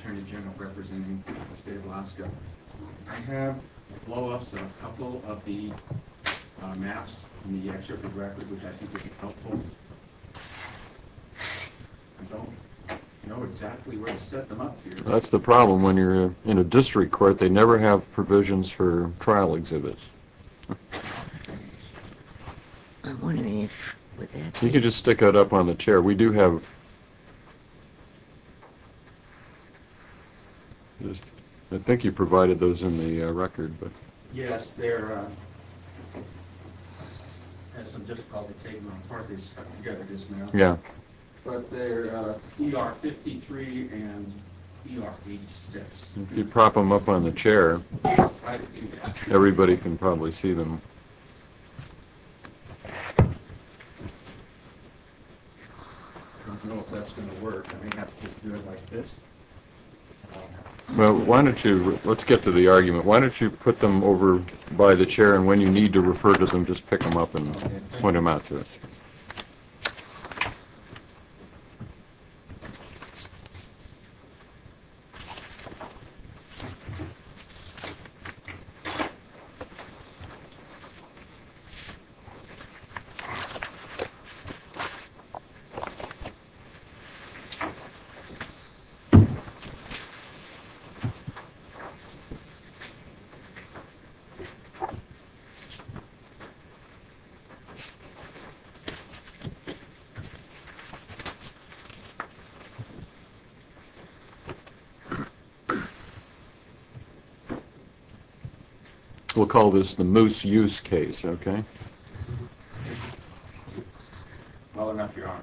Attorney General representing the State of Alaska. I have blow-ups of a couple of the maps in the excerpt of the record, which I think would be helpful. I don't know exactly where to set them up here. That's the problem when you're in a district court. They never have provisions for trial exhibits. You can just stick that up on the chair. We do have, I think you provided those in the record. If you prop them up on the chair, everybody can probably see them. Let's get to the argument. Why don't you put them over by the chair, and when you need to refer to them, just pick them up and point them out to us. We'll call this the moose use case, okay? Well enough, Your Honor.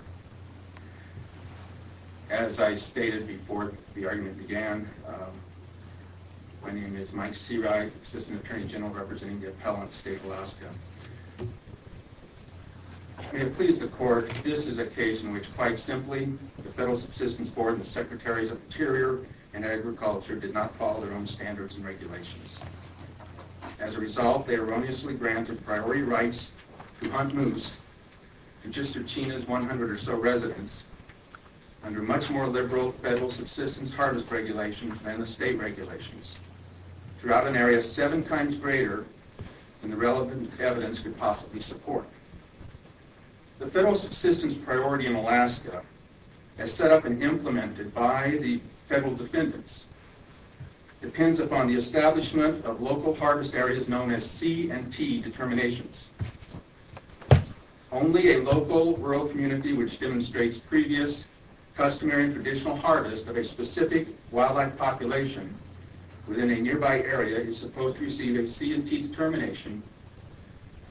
As I stated before the argument began, my name is Mike Serag, Assistant Attorney General representing the Appellant of the State of Alaska. May it please the Court, this is a case in which quite simply, the Federal Subsistence Board and the Secretaries of Interior and Agriculture did not follow their own standards and regulations. As a result, they erroneously granted priority to hunt moose to Chister Chena's 100 or so residents under much more liberal federal subsistence harvest regulations than the state regulations, throughout an area seven times greater than the relevant evidence could possibly support. The federal subsistence priority in Alaska, as set up and implemented by the federal defendants, depends upon the establishment of local harvest areas known as C&T determinations. Only a local rural community which demonstrates previous customary and traditional harvest of a specific wildlife population within a nearby area is supposed to receive a C&T determination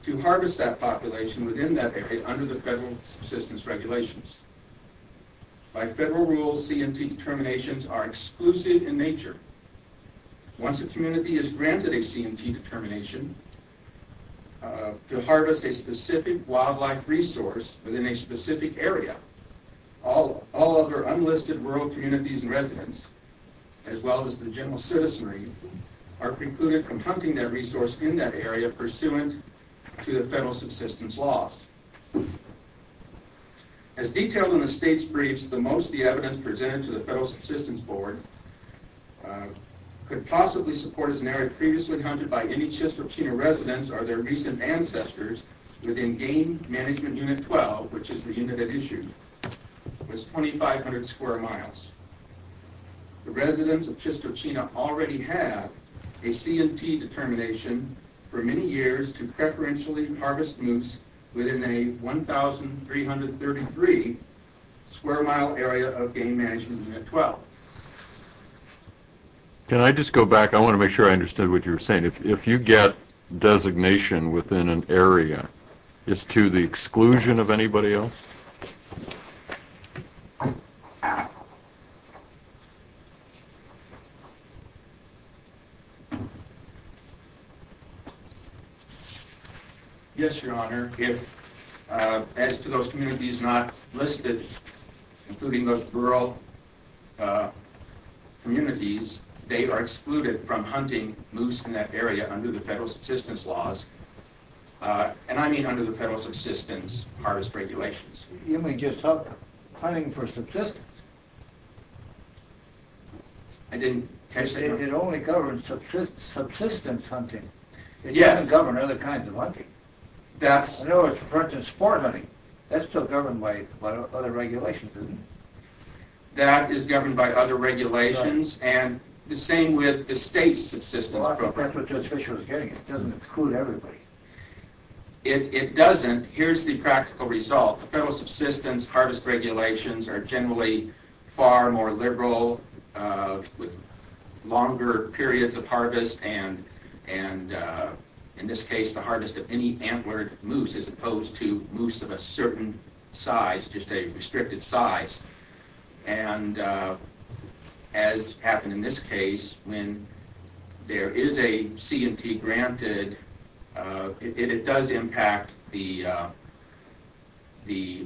to harvest that population within that area under the federal subsistence regulations. By federal rules, C&T determinations are exclusive in nature. Once a community is granted a C&T determination to harvest a specific wildlife resource within a specific area, all other unlisted rural communities and residents, as well as the general citizenry, are precluded from hunting that resource in that area pursuant to the federal subsistence laws. As detailed in the state's briefs, the most of the evidence presented to the federal subsistence board could possibly support an area previously hunted by any Chistochina residents or their recent ancestors within Game Management Unit 12, which is the unit at issue, was 2,500 square miles. The residents of Chistochina already have a C&T determination for many years to preferentially harvest moose within a 1,333 square mile area of Game Management Unit 12. Can I just go back? I want to make sure I understood what you were saying. If you get designation within an area, is to the exclusion of anybody else? Yes, Your Honor. As to those communities not listed, including those rural communities, they are excluded from hunting moose in that area under the federal subsistence laws, and I mean under the federal subsistence harvest regulations. You mean just hunting for subsistence? I didn't... It only governs subsistence hunting. It doesn't govern other kinds of hunting. That's... For instance, sport hunting. That's still governed by other regulations, isn't it? That is governed by other regulations, and the same with the state's subsistence program. That's what Judge Fischer was getting at. It doesn't exclude everybody. It doesn't. Here's the practical result. The federal subsistence harvest regulations are generally far more liberal with longer periods of harvest, and in this case the harvest of any antlered moose as opposed to moose of a certain size, just a restricted size. And as happened in this case, when there is a C&T granted, it does impact the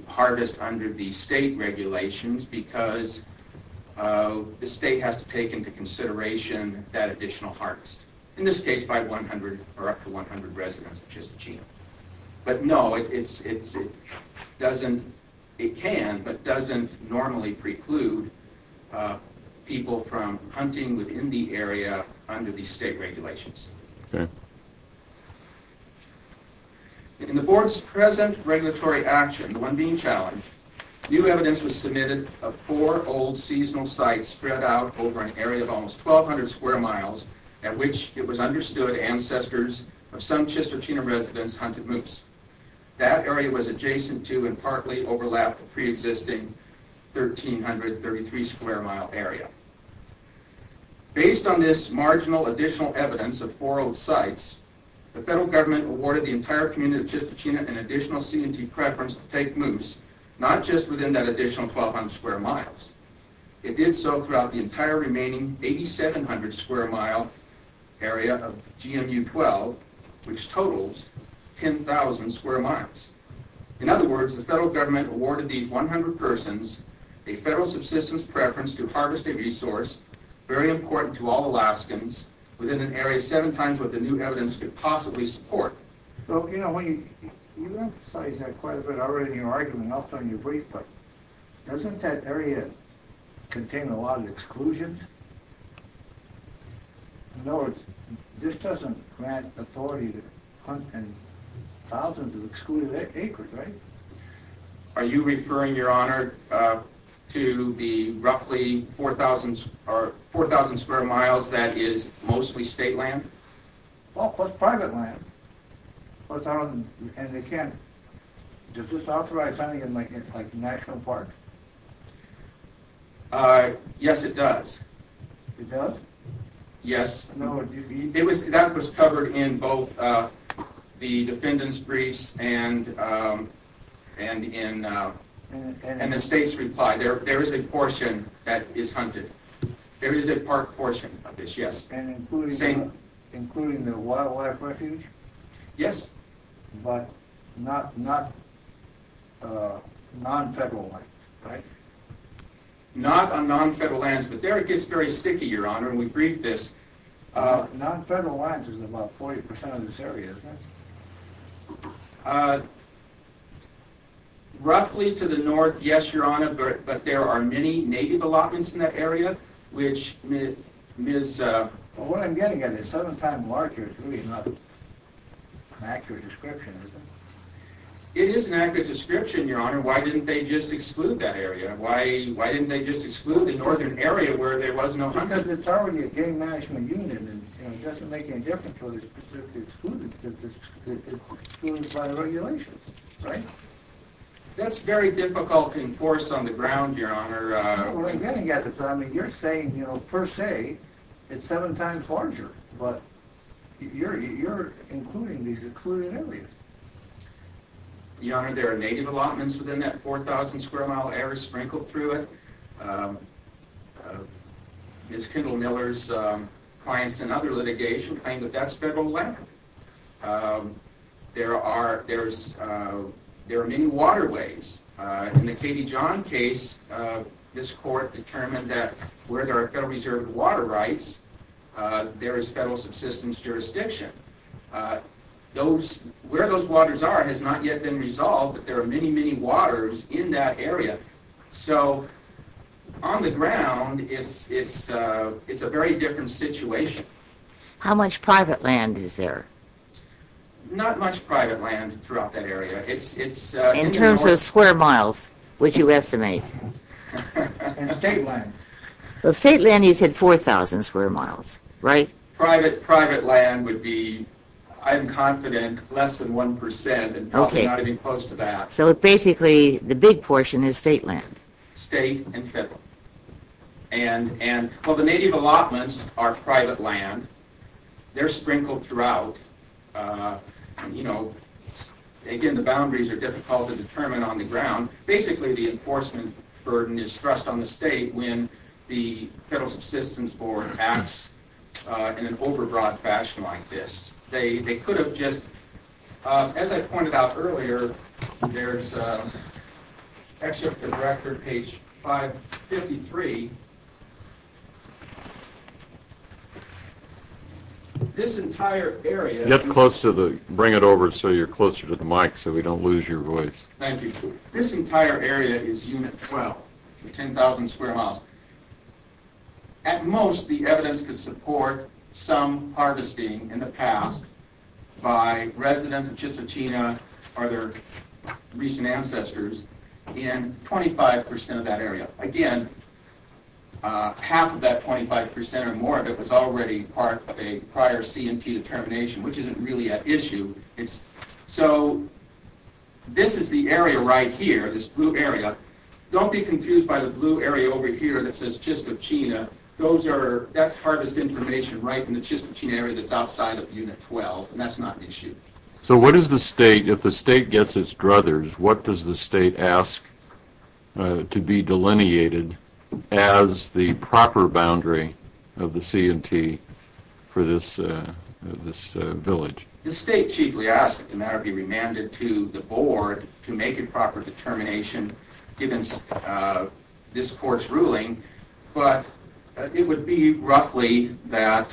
harvest under the state regulations because the state has to take into consideration that additional harvest, in this case by 100 or up to 100 residents, which is the gene. But no, it doesn't... people from hunting within the area under the state regulations. Okay. In the board's present regulatory action, the one being challenged, new evidence was submitted of four old seasonal sites spread out over an area of almost 1,200 square miles at which it was understood ancestors of some Chistochina residents hunted moose. That area was adjacent to and partly overlapped the pre-existing 1,333 square mile area. Based on this marginal additional evidence of four old sites, the federal government awarded the entire community of Chistochina an additional C&T preference to take moose, not just within that additional 1,200 square miles. It did so throughout the entire remaining 8,700 square mile area of GMU-12, which totals 10,000 square miles. In other words, the federal government awarded these 100 persons a federal subsistence preference to harvest a resource very important to all Alaskans within an area seven times what the new evidence could possibly support. So, you know, when you... you've emphasized that quite a bit already in your argument and also in your brief, but doesn't that area contain a lot of exclusions? In other words, this doesn't grant authority to hunt in thousands of excluded acres, right? Are you referring, your honor, to the roughly 4,000 square miles that is mostly state land? Well, plus private land. And they can't... does this authorize hunting in like national parks? Yes, it does. It does? Yes. That was covered in both the defendant's briefs and the state's reply. There is a portion that is hunted. There is a park portion of this, yes. And including the wildlife refuge? Yes. But not non-federal land, right? Not on non-federal lands, but there it gets very sticky, your honor, and we briefed this. Non-federal lands is about 40% of this area, isn't it? Roughly to the north, yes, your honor, but there are many native allotments in that area which Ms. What I'm getting at is seven times larger is really not an accurate description, is it? It is an accurate description, your honor. Why didn't they just exclude that area? Why didn't they just exclude the northern area where there was no hunting? Because it's already a game management unit and it doesn't make any difference whether it's specifically excluded because it's excluded by the regulations, right? That's very difficult to enforce on the ground, your honor. Well, I'm getting at this. I mean, you're saying, you know, per se, it's seven times larger, but you're including these excluded areas. Your honor, there are native allotments within that 4,000 square mile area sprinkled through it. Ms. Kendall Miller's clients in other litigation claim that that's federal land. There are many waterways. In the Katie John case, this court determined that where there are federal reserve water rights, there is federal subsistence jurisdiction. Where those waters are has not yet been resolved, but there are many, many waters in that area. So, on the ground, it's a very different situation. Right. How much private land is there? Not much private land throughout that area. In terms of square miles, would you estimate? State land. Well, state land, you said 4,000 square miles, right? Private land would be, I'm confident, less than 1% and probably not even close to that. So, basically, the big portion is state land? State and federal. And, well, the native allotments are private land. They're sprinkled throughout. You know, again, the boundaries are difficult to determine on the ground. Basically, the enforcement burden is thrust on the state when the federal subsistence board acts in an overbroad fashion like this. They could have just, as I pointed out earlier, there's an excerpt from the record, page 553. This entire area... Get close to the, bring it over so you're closer to the mic so we don't lose your voice. Thank you. This entire area is Unit 12, 10,000 square miles. At most, the evidence could support some harvesting in the past by residents of Chichitina or their recent ancestors in 25% of that area. Again, half of that 25% or more of it was already part of a prior CMT determination, which isn't really at issue. So, this is the area right here, this blue area. Don't be confused by the blue area over here that says Chichitina. Those are, that's harvest information right in the Chichitina area that's outside of Unit 12, and that's not an issue. So, what does the state, if the state gets its druthers, what does the state ask to be delineated as the proper boundary of the CMT for this village? The state chiefly asks that the matter be remanded to the board to make a proper determination given this court's ruling, but it would be roughly that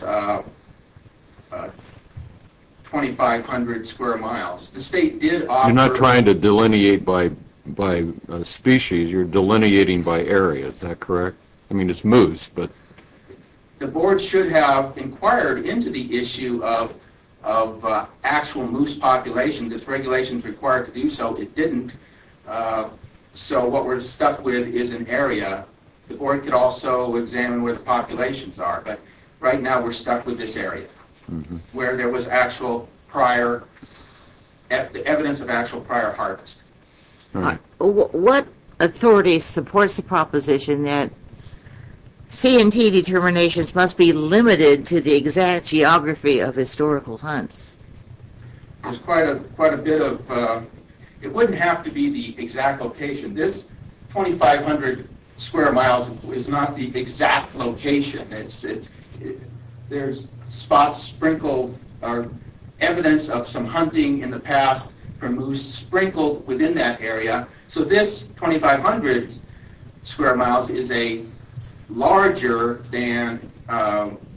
2,500 square miles. The state did offer... You're not trying to delineate by species, you're delineating by area, is that correct? I mean, it's moose, but... The board should have inquired into the issue of actual moose populations. If regulation's required to do so, it didn't. So, what we're stuck with is an area. The board could also examine where the populations are, but right now we're stuck with this area where there was actual prior, evidence of actual prior harvest. What authority supports the proposition that CMT determinations must be limited to the exact geography of historical hunts? There's quite a bit of... It wouldn't have to be the exact location. This 2,500 square miles is not the exact location. There's spots sprinkled, or evidence of some hunting in the past for moose sprinkled within that area. So, this 2,500 square miles is a larger than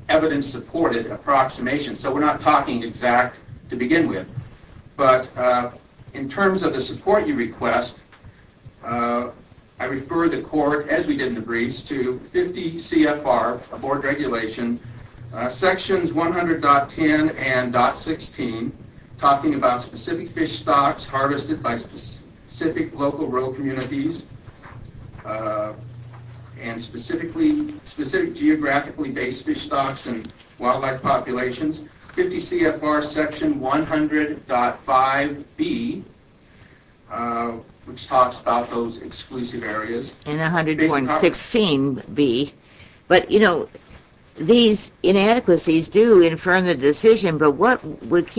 evidence-supported approximation. So, we're not talking exact to begin with. But, in terms of the support you request, I refer the court, as we did in the briefs, to 50 CFR, a board regulation, sections 100.10 and .16, talking about specific fish stocks harvested by specific local rural communities, and specific geographically-based fish stocks and wildlife populations. 50 CFR section 100.5B, which talks about those exclusive areas. And 101.16B. But, you know, these inadequacies do infirm the decision, but what would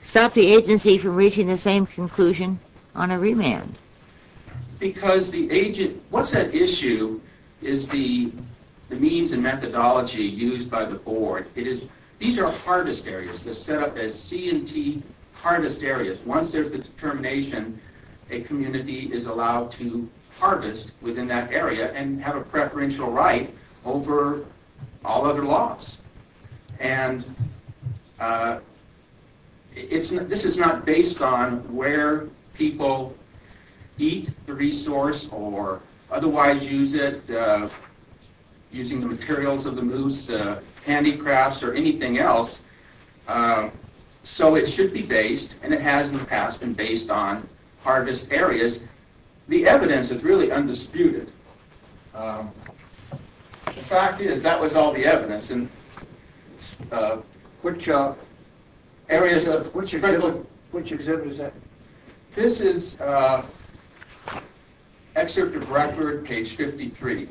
stop the agency from reaching the same conclusion on a remand? Because the agent... What's at issue is the means and methodology used by the board. These are harvest areas. They're set up as CMT harvest areas. Once there's a determination, a community is allowed to harvest within that area and have a preferential right over all other laws. And this is not based on where people eat the resource or otherwise use it, using the materials of the moose, handicrafts, or anything else. So, it should be based, and it has in the past been based on, harvest areas. The evidence is really undisputed. The fact is, that was all the evidence. Which areas of... Which exhibit is that? This is Excerpt of Record, page 53.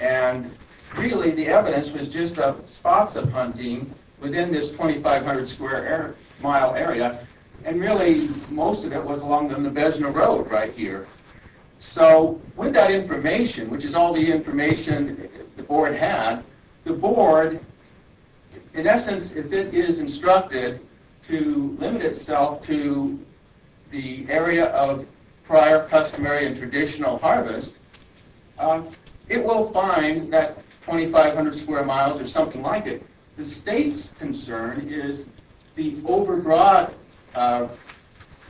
And really, the evidence was just the spots of hunting within this 2,500-square-mile area, and really, most of it was along the Nabezna Road right here. So, with that information, which is all the information the board had, the board, in essence, if it is instructed to limit itself to the area of prior customary and traditional harvest, it will find that 2,500-square-miles or something like it. The state's concern is the over-broad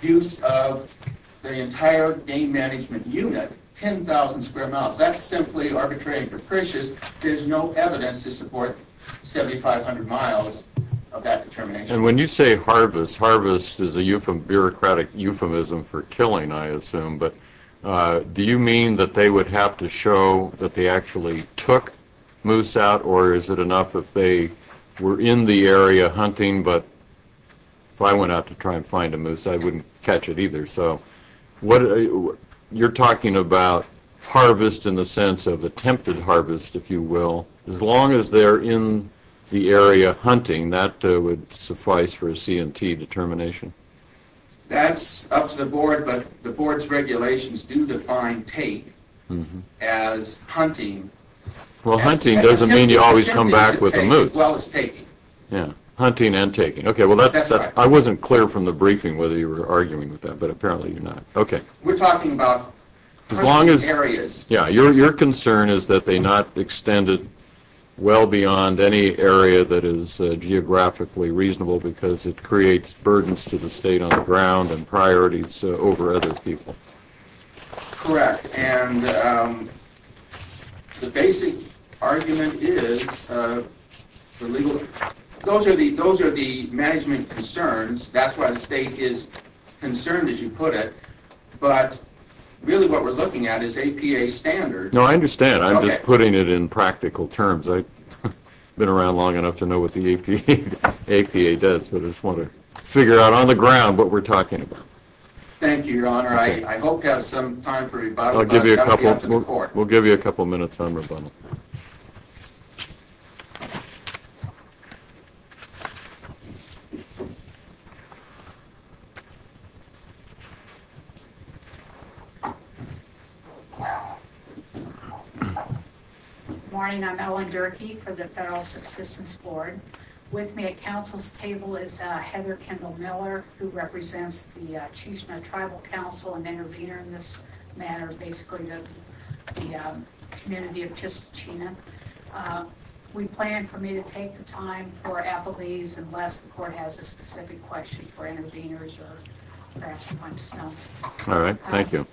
use of the entire game management unit, 10,000-square-miles. That's simply arbitrary and capricious. There's no evidence to support 7,500 miles of that determination. And when you say harvest, harvest is a bureaucratic euphemism for killing, I assume, but do you mean that they would have to show that they actually took moose out, or is it enough if they were in the area hunting, but if I went out to try and find a moose, I wouldn't catch it either. So, you're talking about harvest in the sense of attempted harvest, if you will. As long as they're in the area hunting, that would suffice for a C&T determination. That's up to the board, but the board's regulations do define take as hunting. Well, hunting doesn't mean you always come back with a moose. Hunting and taking. Okay, well, I wasn't clear from the briefing whether you were arguing with that, but apparently you're not. Okay. We're talking about hunting areas. Yeah, your concern is that they not extend it well beyond any area that is geographically reasonable because it creates burdens to the state on the ground and priorities over other people. Correct. And the basic argument is those are the management concerns. That's why the state is concerned, as you put it. But really what we're looking at is APA standards. No, I understand. I'm just putting it in practical terms. I've been around long enough to know what the APA does, but I just want to figure out on the ground what we're talking about. Thank you, Your Honor. I hope you have some time for rebuttal. I'll give you a couple minutes on rebuttal. Good morning. I'm Ellen Durkee for the Federal Assistance Board. With me at council's table is Heather Kendall Miller, who represents the Chisholm Tribal Council, an intervener in this matter basically of the community of Chisholm. We plan for me to take the time for appellees unless the court has a specific question for interveners or perhaps you want to stop. All right. Thank you.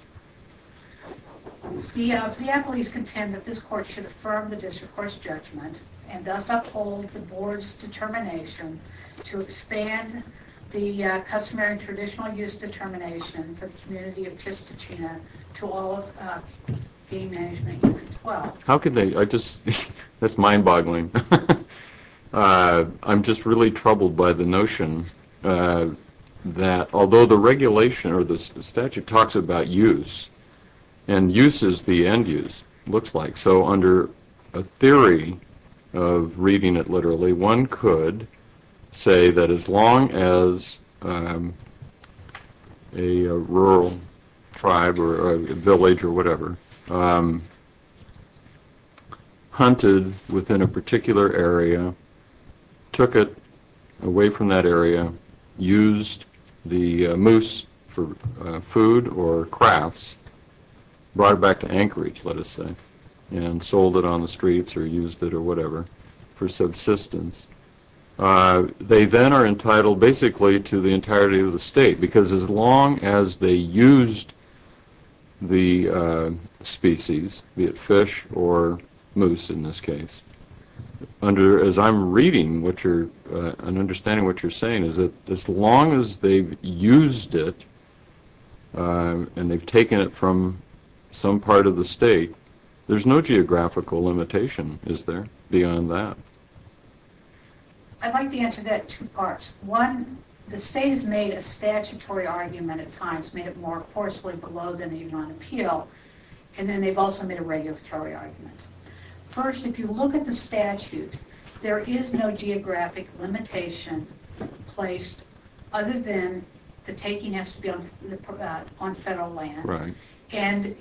The appellees contend that this court should affirm the district court's judgment and thus uphold the board's determination to expand the customary and traditional use determination for the community of Chistochina to all of game management unit 12. How can they? That's mind boggling. I'm just really troubled by the notion that although the regulation or the statute talks about use and use is the end use, it looks like. So under a theory of reading it literally, one could say that as long as a rural tribe or a village or whatever hunted within a particular area, took it away from that area, used the moose for food or crafts, brought it back to Anchorage, let us say, and sold it on the streets or used it or whatever for subsistence, they then are entitled basically to the entirety of the state because as long as they used the species, be it fish or moose in this case, as I'm reading and understanding what you're saying is that as long as they've used it and they've taken it from some part of the state, there's no geographical limitation, is there, beyond that? I'd like to answer that in two parts. One, the state has made a statutory argument at times, made it more forcefully below than the Union Appeal, and then they've also made a regulatory argument. First, if you look at the statute, there is no geographic limitation placed other than the taking has to be on federal land. Right. And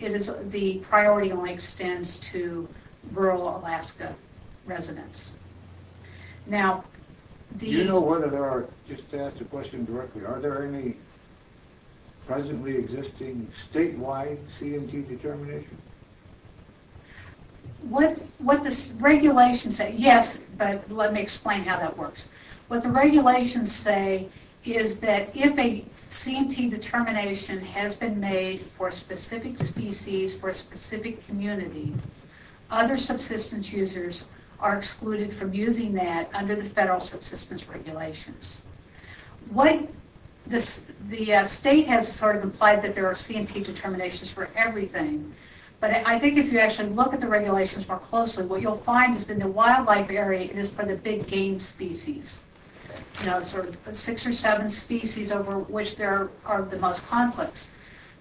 the priority only extends to rural Alaska residents. Do you know whether there are, just to ask the question directly, are there any presently existing statewide CMT determinations? What the regulations say, yes, but let me explain how that works. What the regulations say is that if a CMT determination has been made for a specific species, for a specific community, other subsistence users are excluded from using that under the federal subsistence regulations. The state has sort of implied that there are CMT determinations for everything, but I think if you actually look at the regulations more closely, what you'll find is in the wildlife area is for the big game species, you know, sort of six or seven species over which there are the most conflicts.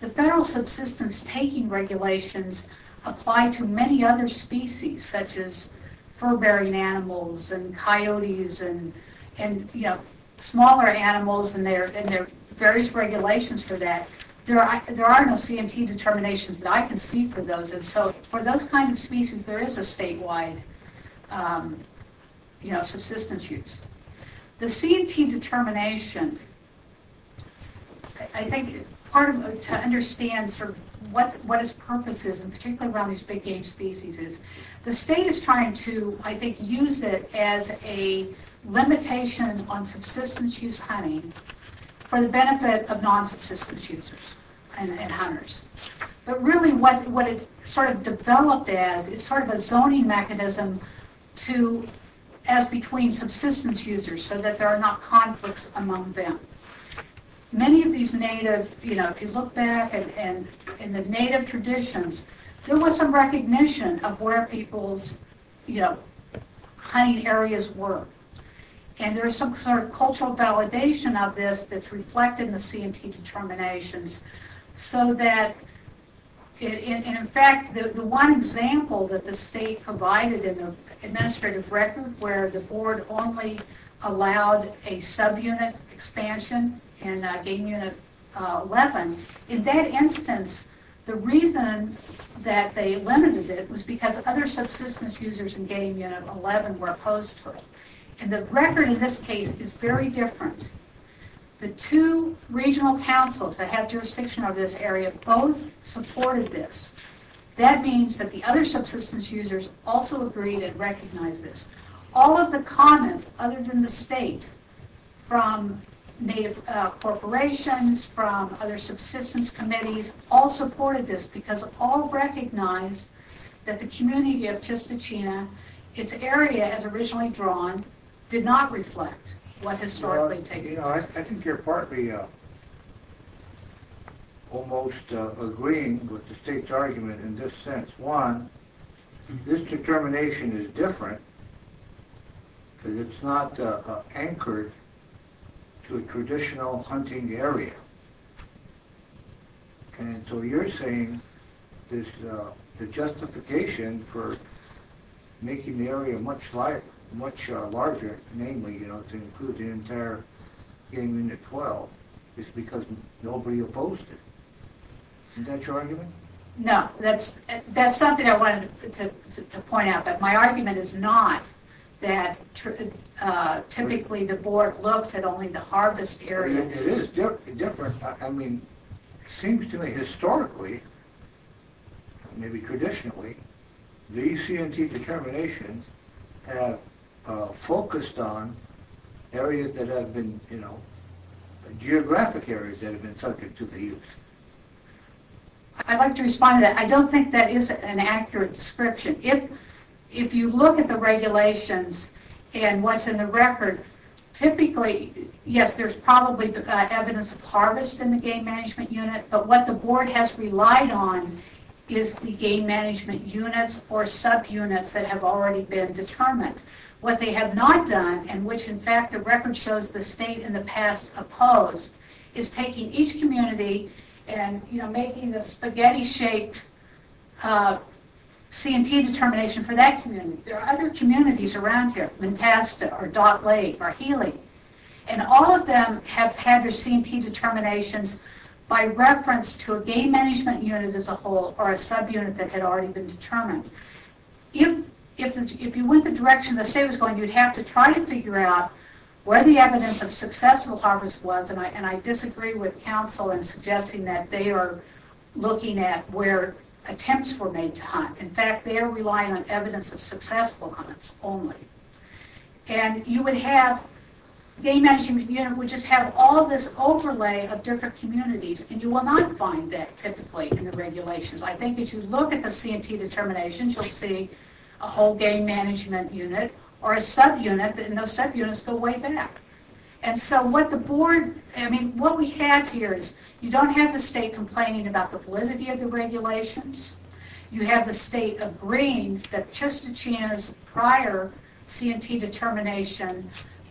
The federal subsistence taking regulations apply to many other species, such as fur-bearing animals and coyotes and, you know, smaller animals, and there are various regulations for that. There are no CMT determinations that I can see for those, and so for those kinds of species there is a statewide, you know, subsistence use. The CMT determination, I think part of it to understand sort of what its purpose is, and particularly around these big game species is, the state is trying to, I think, use it as a limitation on subsistence use hunting for the benefit of non-subsistence users and hunters. But really what it sort of developed as is sort of a zoning mechanism to, as between subsistence users so that there are not conflicts among them. Many of these native, you know, if you look back in the native traditions, there was some recognition of where people's, you know, hunting areas were, and there's some sort of cultural validation of this that's reflected in the CMT determinations so that in fact the one example that the state provided in the administrative record where the board only allowed a subunit expansion in game unit 11, in that instance the reason that they limited it was because other subsistence users in game unit 11 were opposed to it. And the record in this case is very different. The two regional councils that have jurisdiction over this area both supported this. That means that the other subsistence users also agreed and recognized this. All of the commons other than the state, from native corporations, from other subsistence committees, all supported this because all recognized that the community of Chistochina, its area as originally drawn, did not reflect what historically taken place. Well, you know, I think you're partly almost agreeing with the state's argument in this sense. One, this determination is different because it's not anchored to a traditional hunting area. And so you're saying the justification for making the area much larger, namely to include the entire game unit 12, is because nobody opposed it. Isn't that your argument? No, that's something I wanted to point out, but my argument is not that typically the board looks at only the harvest area. It is different. I mean, it seems to me historically, maybe traditionally, these C&T determinations have focused on areas that have been, you know, geographic areas that have been subject to the use. I'd like to respond to that. I don't think that is an accurate description. If you look at the regulations and what's in the record, typically, yes, there's probably evidence of harvest in the game management unit, but what the board has relied on is the game management units or subunits that have already been determined. What they have not done, and which in fact the record shows the state in the past opposed, is taking each community and, you know, making the spaghetti-shaped C&T determination for that community. There are other communities around here, Montasta or Dock Lake or Healy, and all of them have had their C&T determinations by reference to a game management unit as a whole or a subunit that had already been determined. If you went the direction the state was going, you'd have to try to figure out where the evidence of successful harvest was, and I disagree with counsel in suggesting that they are looking at where attempts were made to hunt. In fact, they are relying on evidence of successful harvests only. And you would have game management unit would just have all this overlay of different communities, and you will not find that typically in the regulations. I think if you look at the C&T determinations, you'll see a whole game management unit or a subunit, and those subunits go way back. And so what the board, I mean, what we have here is you don't have the state complaining about the validity of the regulations. You have the state agreeing that Chistichina's prior C&T determination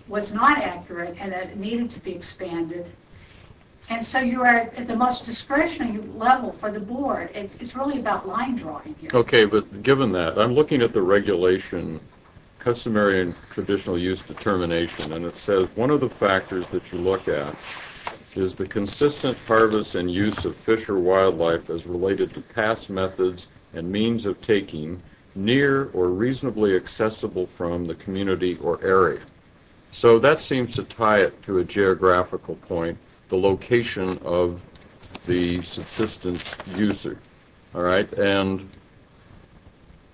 was not accurate and that it needed to be expanded. And so you are at the most discretionary level for the board. It's really about line drawing here. Okay, but given that, I'm looking at the regulation, customary and traditional use determination, and it says one of the factors that you look at is the consistent harvest and use of fish or wildlife as related to past methods and means of taking near or reasonably accessible from the community or area. So that seems to tie it to a geographical point, the location of the subsistence user. And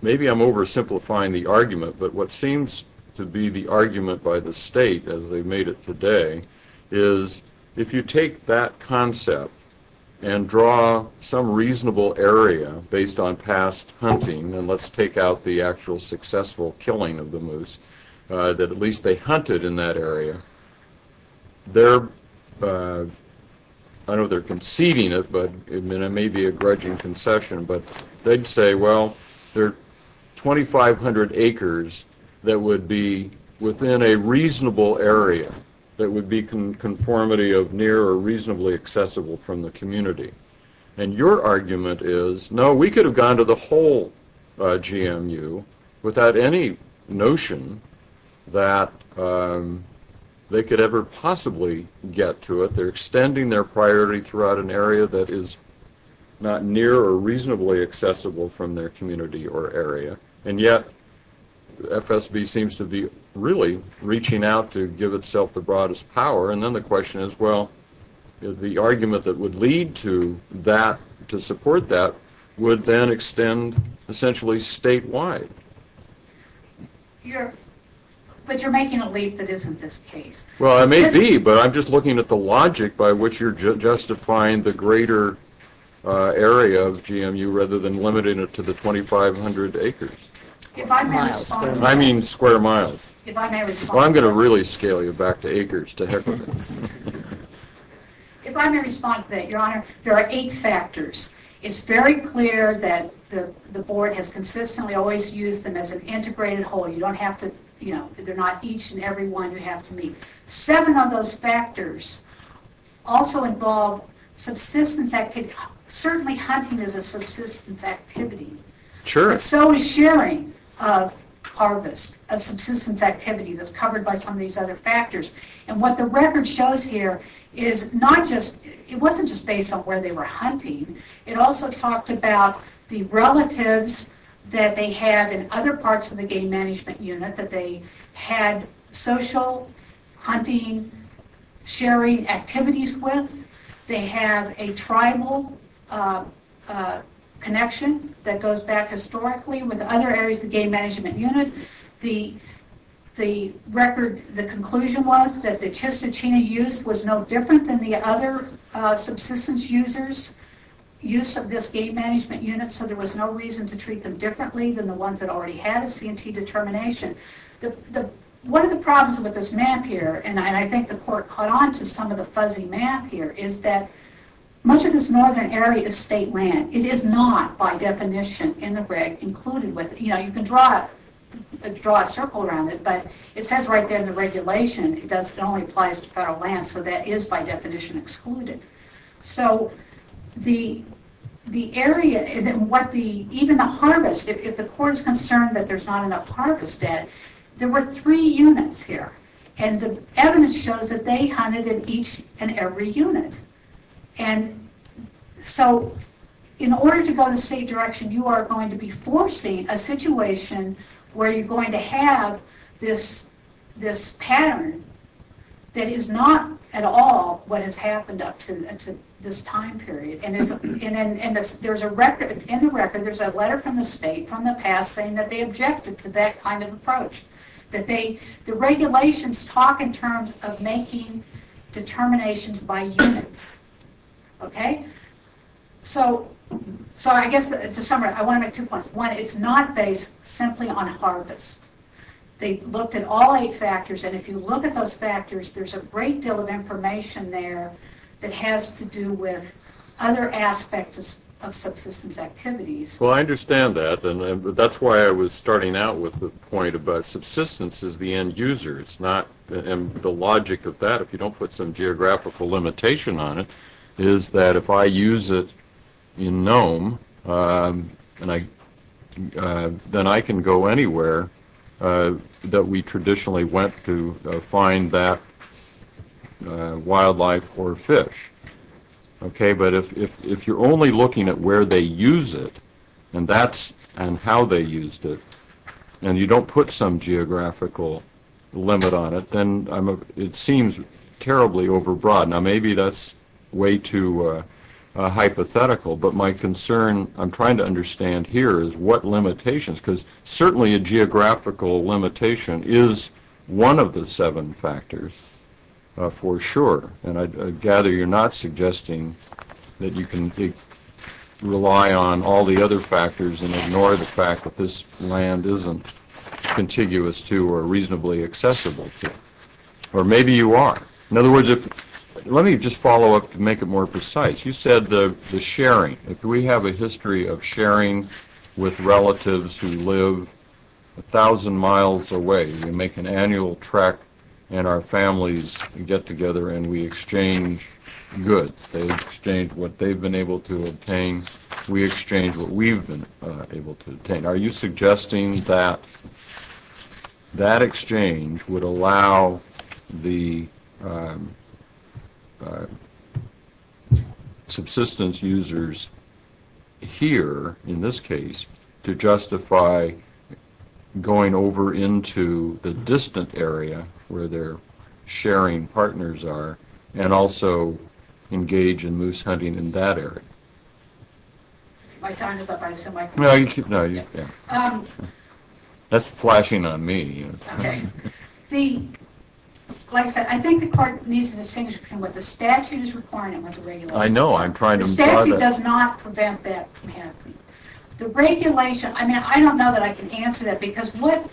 maybe I'm oversimplifying the argument, but what seems to be the argument by the state, as they made it today, is if you take that concept and draw some reasonable area based on past hunting, and let's take out the actual successful killing of the moose that at least they hunted in that area, I know they're conceding it, but it may be a grudging concession, but they'd say, well, there are 2,500 acres that would be within a reasonable area that would be conformity of near or reasonably accessible from the community. And your argument is, no, we could have gone to the whole GMU without any notion that they could ever possibly get to it. They're extending their priority throughout an area that is not near or reasonably accessible from their community or area. And yet FSB seems to be really reaching out to give itself the broadest power. And then the question is, well, the argument that would lead to support that would then extend essentially statewide. But you're making a leap that isn't this case. Well, I may be, but I'm just looking at the logic by which you're justifying the greater area of GMU rather than limiting it to the 2,500 acres. I mean square miles. Well, I'm going to really scale you back to acres, to heck with it. If I may respond to that, Your Honor, there are eight factors. It's very clear that the board has consistently always used them as an integrated whole. You don't have to, you know, they're not each and every one you have to meet. Seven of those factors also involve subsistence activity. Certainly hunting is a subsistence activity. Sure. So is sharing of harvest, a subsistence activity that's covered by some of these other factors. And what the record shows here is not just, it wasn't just based on where they were hunting. It also talked about the relatives that they had in other parts of the game management unit that they had social, hunting, sharing activities with. They have a tribal connection that goes back historically with other areas of the game management unit. The record, the conclusion was that the Chistochina use was no different than the other subsistence users' use of this game management unit, so there was no reason to treat them differently than the ones that already had a C&T determination. One of the problems with this map here, and I think the court caught on to some of the fuzzy math here, is that much of this northern area is state land. It is not, by definition, in the reg included. You can draw a circle around it, but it says right there in the regulation, it only applies to federal land, so that is, by definition, excluded. So the area, even the harvest, if the court is concerned that there's not enough harvest dead, there were three units here, and the evidence shows that they hunted in each and every unit. So in order to go the state direction, you are going to be foreseeing a situation where you're going to have this pattern that is not at all what has happened up to this time period. In the record, there's a letter from the state from the past saying that they objected to that kind of approach. The regulations talk in terms of making determinations by units. So I guess to sum it up, I want to make two points. One, it's not based simply on harvest. They looked at all eight factors, and if you look at those factors, there's a great deal of information there that has to do with other aspects of subsistence activities. Well, I understand that, and that's why I was starting out with the point about subsistence as the end user. It's not, and the logic of that, if you don't put some geographical limitation on it, is that if I use it in Nome, then I can go anywhere that we traditionally went to find that wildlife or fish. But if you're only looking at where they use it and how they used it, and you don't put some geographical limit on it, then it seems terribly overbroad. Now, maybe that's way too hypothetical, but my concern, I'm trying to understand here, is what limitations, because certainly a geographical limitation is one of the seven factors for sure. And I gather you're not suggesting that you can rely on all the other factors and ignore the fact that this land isn't contiguous to or reasonably accessible to, or maybe you are. In other words, let me just follow up to make it more precise. You said the sharing. If we have a history of sharing with relatives who live a thousand miles away, we make an annual trek and our families get together and we exchange goods. They exchange what they've been able to obtain. We exchange what we've been able to obtain. Are you suggesting that that exchange would allow the subsistence users here, in this case, to justify going over into the distant area where their sharing partners are and also engage in moose hunting in that area? My time is up. No, you keep going. That's flashing on me. Okay. Like I said, I think the court needs to distinguish between what the statute is requiring and what the regulation is. I know. I'm trying to… The statute does not prevent that from happening. The regulation, I mean, I don't know that I can answer that because what,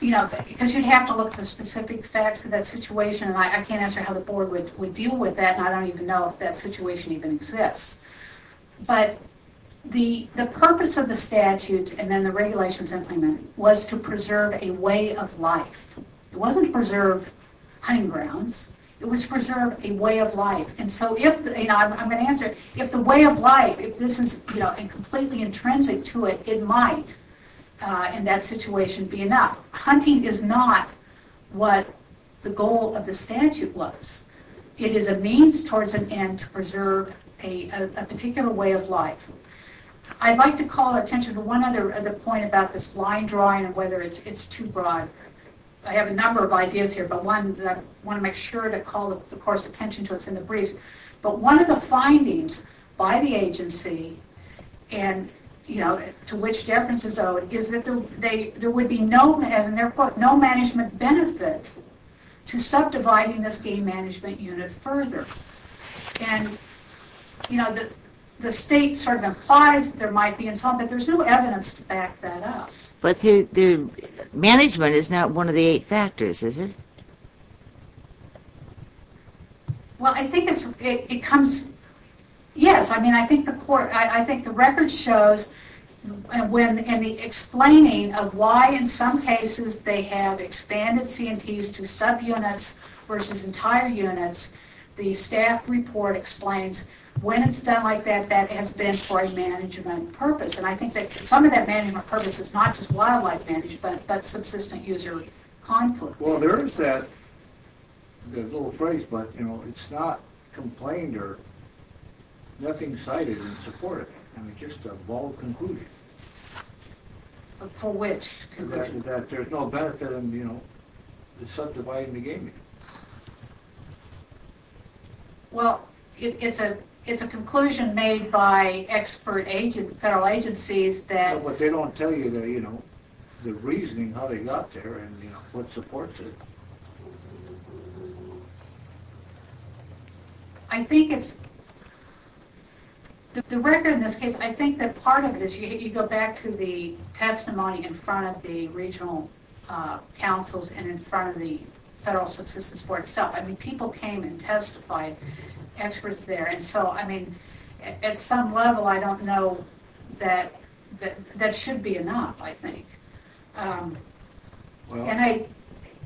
you know, because you'd have to look at the specific facts of that situation and I can't answer how the board would deal with that and I don't even know if that situation even exists. But the purpose of the statute and then the regulations implemented was to preserve a way of life. It wasn't to preserve hunting grounds. It was to preserve a way of life. And so if, you know, I'm going to answer it. If the way of life, if this is, you know, completely intrinsic to it, it might, in that situation, be enough. So hunting is not what the goal of the statute was. It is a means towards an end to preserve a particular way of life. I'd like to call attention to one other point about this line drawing and whether it's too broad. I have a number of ideas here, but one that I want to make sure to call, of course, attention to. It's in the briefs. But one of the findings by the agency and, you know, to which deference is owed is that there would be no, as in their quote, no management benefit to subdividing this game management unit further. And, you know, the state sort of implies there might be, but there's no evidence to back that up. But the management is not one of the eight factors, is it? Well, I think it comes, yes. I mean, I think the record shows when in the explaining of why in some cases they have expanded C&Ts to subunits versus entire units, the staff report explains when it's done like that, that has been for a management purpose. And I think that some of that management purpose is not just wildlife management but subsistence user conflict. Well, there is that little phrase, but, you know, it's not complained or nothing cited in support of it. I mean, it's just a bald conclusion. For which? That there's no benefit in, you know, subdividing the game unit. Well, it's a conclusion made by expert federal agencies that But they don't tell you the, you know, the reasoning how they got there and, you know, what supports it. I think it's the record in this case, I think that part of it is you go back to the testimony in front of the regional councils and in front of the federal subsistence board itself. I mean, people came and testified, experts there. And so, I mean, at some level, I don't know that that should be enough, I think. And I,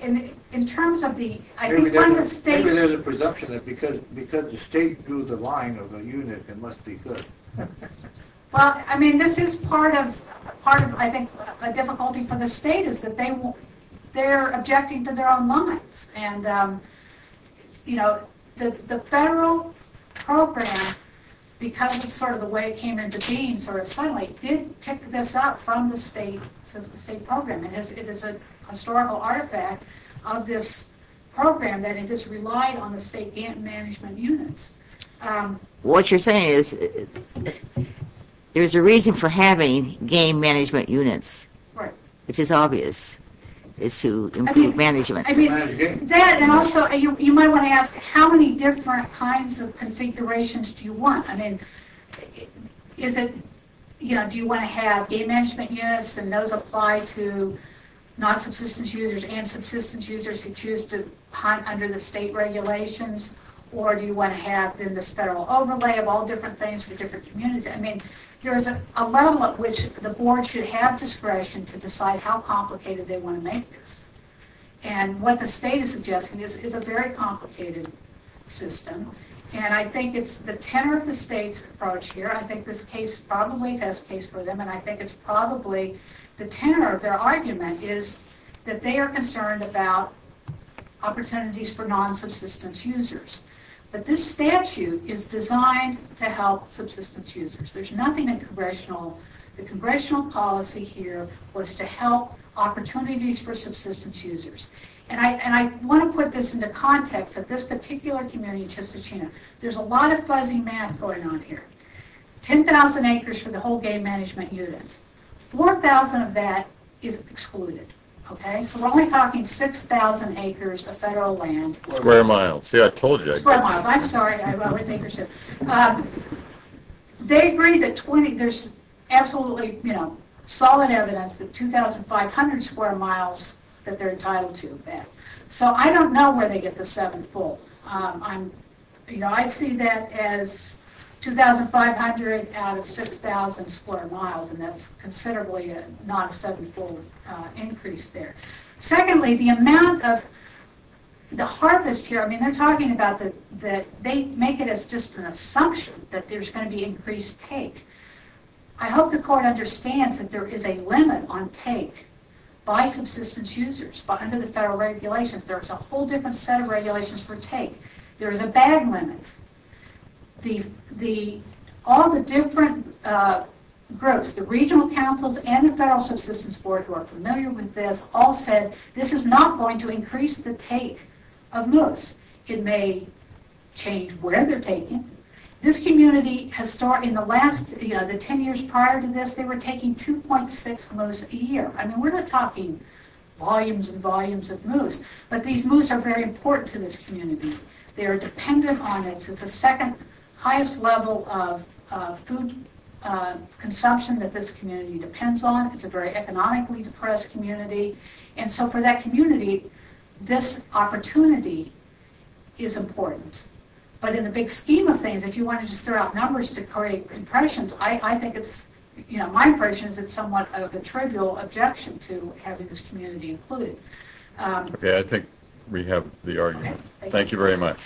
in terms of the, I think one of the states Maybe there's a presumption that because the state drew the line of the unit, it must be good. Well, I mean, this is part of, I think, a difficulty for the state is that they're objecting to their own lines. And, you know, the federal program, because of sort of the way it came into being, did pick this up from the state program. And it is a historical artifact of this program that it just relied on the state game management units. What you're saying is there's a reason for having game management units. Right. Which is obvious, is to improve management. I mean, that and also you might want to ask how many different kinds of configurations do you want? I mean, is it, you know, do you want to have game management units and those apply to non-subsistence users and subsistence users who choose to hunt under the state regulations? Or do you want to have, then, this federal overlay of all different things for different communities? I mean, there's a level at which the board should have discretion to decide how complicated they want to make this. And what the state is suggesting is a very complicated system. And I think it's the tenor of the state's approach here, I think this case probably does case for them, and I think it's probably the tenor of their argument, is that they are concerned about opportunities for non-subsistence users. But this statute is designed to help subsistence users. There's nothing in congressional, the congressional policy here was to help opportunities for subsistence users. And I want to put this into context of this particular community in Chistichina. There's a lot of fuzzy math going on here. 10,000 acres for the whole game management unit. 4,000 of that is excluded. Okay? So we're only talking 6,000 acres of federal land. Square miles. See, I told you. Square miles. I'm sorry. They agree that 20, there's absolutely, you know, solid evidence that 2,500 square miles that they're entitled to. So I don't know where they get the seven full. You know, I see that as 2,500 out of 6,000 square miles, and that's considerably not a seven full increase there. Secondly, the amount of the harvest here, I mean, they're talking about that they make it as just an assumption that there's going to be increased take. I hope the court understands that there is a limit on take by subsistence users under the federal regulations. There's a whole different set of regulations for take. There is a bag limit. All the different groups, the regional councils and the federal subsistence board who are familiar with this, all said this is not going to increase the take of moose. It may change where they're taking. This community, in the last, you know, the 10 years prior to this, they were taking 2.6 moose a year. I mean, we're not talking volumes and volumes of moose, but these moose are very important to this community. They are dependent on it. It's the second highest level of food consumption that this community depends on. It's a very economically depressed community. And so for that community, this opportunity is important. But in the big scheme of things, if you want to just throw out numbers to create impressions, I think it's, you know, my impression is it's somewhat of a trivial objection to having this community included. Okay, I think we have the argument. Thank you very much.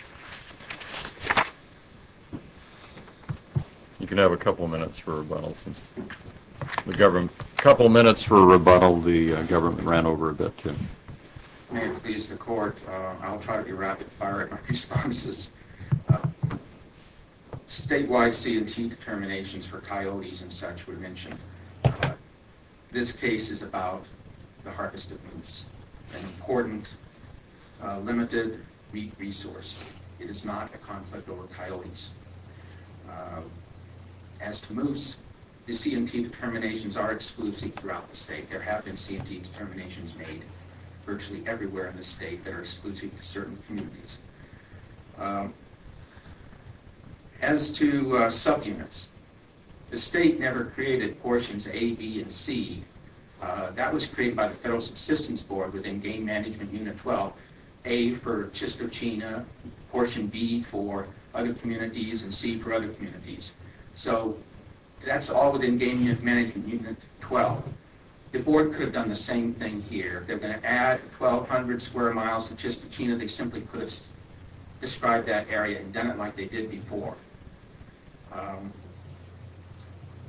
You can have a couple minutes for rebuttals. A couple minutes for a rebuttal. The government ran over a bit. May it please the court. I'll try to be rapid fire at my responses. Statewide C&T determinations for coyotes and such were mentioned. This case is about the harvest of moose, an important, limited meat resource. It is not a conflict over coyotes. As to moose, the C&T determinations are exclusive throughout the state. There have been C&T determinations made virtually everywhere in the state that are exclusive to certain communities. As to subunits, the state never created portions A, B, and C. That was created by the Federal Subsistence Board within Game Management Unit 12, A for Chistochina, portion B for other communities, and C for other communities. So that's all within Game Management Unit 12. The board could have done the same thing here. If they were going to add 1,200 square miles to Chistochina, they simply could have described that area and done it like they did before.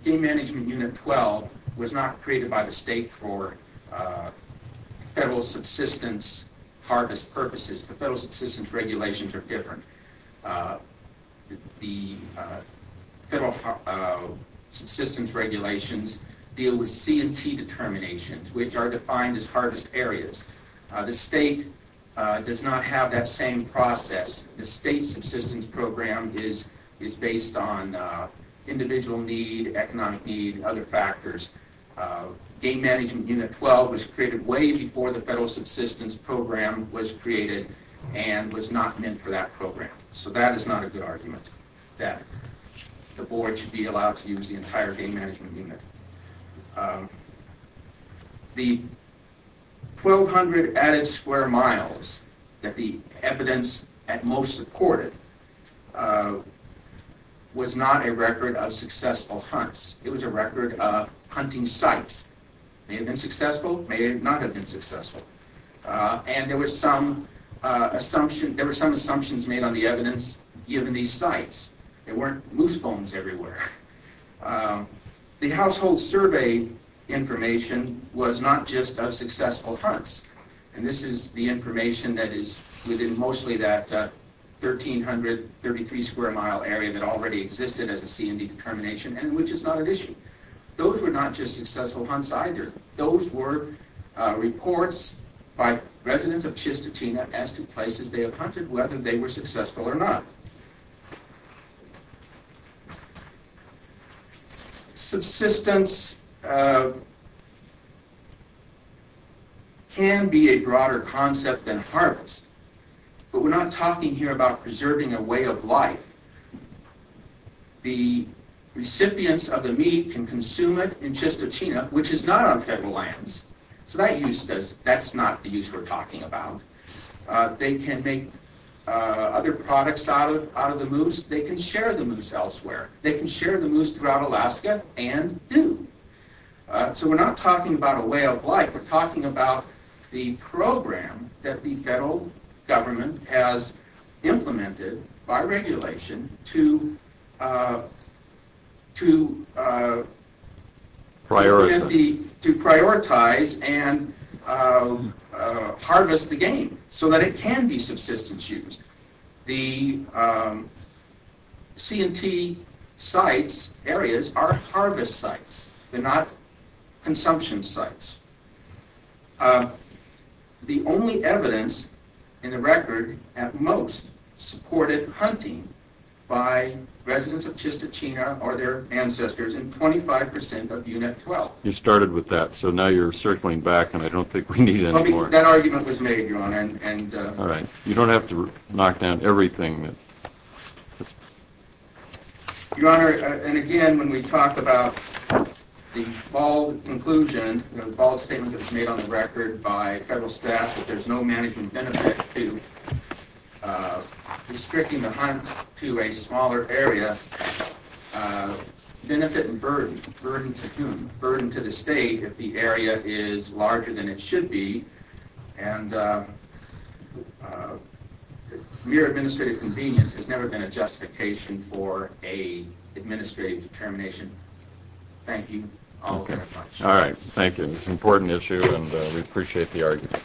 Game Management Unit 12 was not created by the state for federal subsistence harvest purposes. The federal subsistence regulations are different. The federal subsistence regulations deal with C&T determinations, which are defined as harvest areas. The state does not have that same process. The state subsistence program is based on individual need, economic need, and other factors. Game Management Unit 12 was created way before the federal subsistence program was created and was not meant for that program. So that is not a good argument, that the board should be allowed to use the entire Game Management Unit. The 1,200 added square miles that the evidence at most supported was not a record of successful hunts. It was a record of hunting sites. May have been successful, may not have been successful. And there were some assumptions made on the evidence given these sites. There weren't moose bones everywhere. The household survey information was not just of successful hunts. And this is the information that is within mostly that 1,333 square mile area that already existed as a C&T determination and which is not an issue. Those were not just successful hunts either. Those were reports by residents of Chistochina as to places they have hunted, whether they were successful or not. Subsistence can be a broader concept than harvest. But we're not talking here about preserving a way of life. The recipients of the meat can consume it in Chistochina, which is not on federal lands. So that's not the use we're talking about. They can make other products out of the moose. They can share the moose elsewhere. They can share the moose throughout Alaska and do. So we're not talking about a way of life. We're talking about the program that the federal government has implemented by regulation to prioritize and harvest the game so that it can be subsistence use. The C&T sites, areas, are harvest sites. They're not consumption sites. The only evidence in the record at most supported hunting by residents of Chistochina or their ancestors in 25% of Unit 12. You started with that, so now you're circling back, and I don't think we need any more. That argument was made, Your Honor. All right. You don't have to knock down everything. Your Honor, and again, when we talk about the bold conclusion, the bold statement that was made on the record by federal staff that there's no management benefit to restricting the hunt to a smaller area, benefit and burden. Burden to whom? Burden to the state if the area is larger than it should be. And mere administrative convenience has never been a justification for an administrative determination. Thank you all very much. All right. Thank you. It's an important issue, and we appreciate the argument. The case is submitted.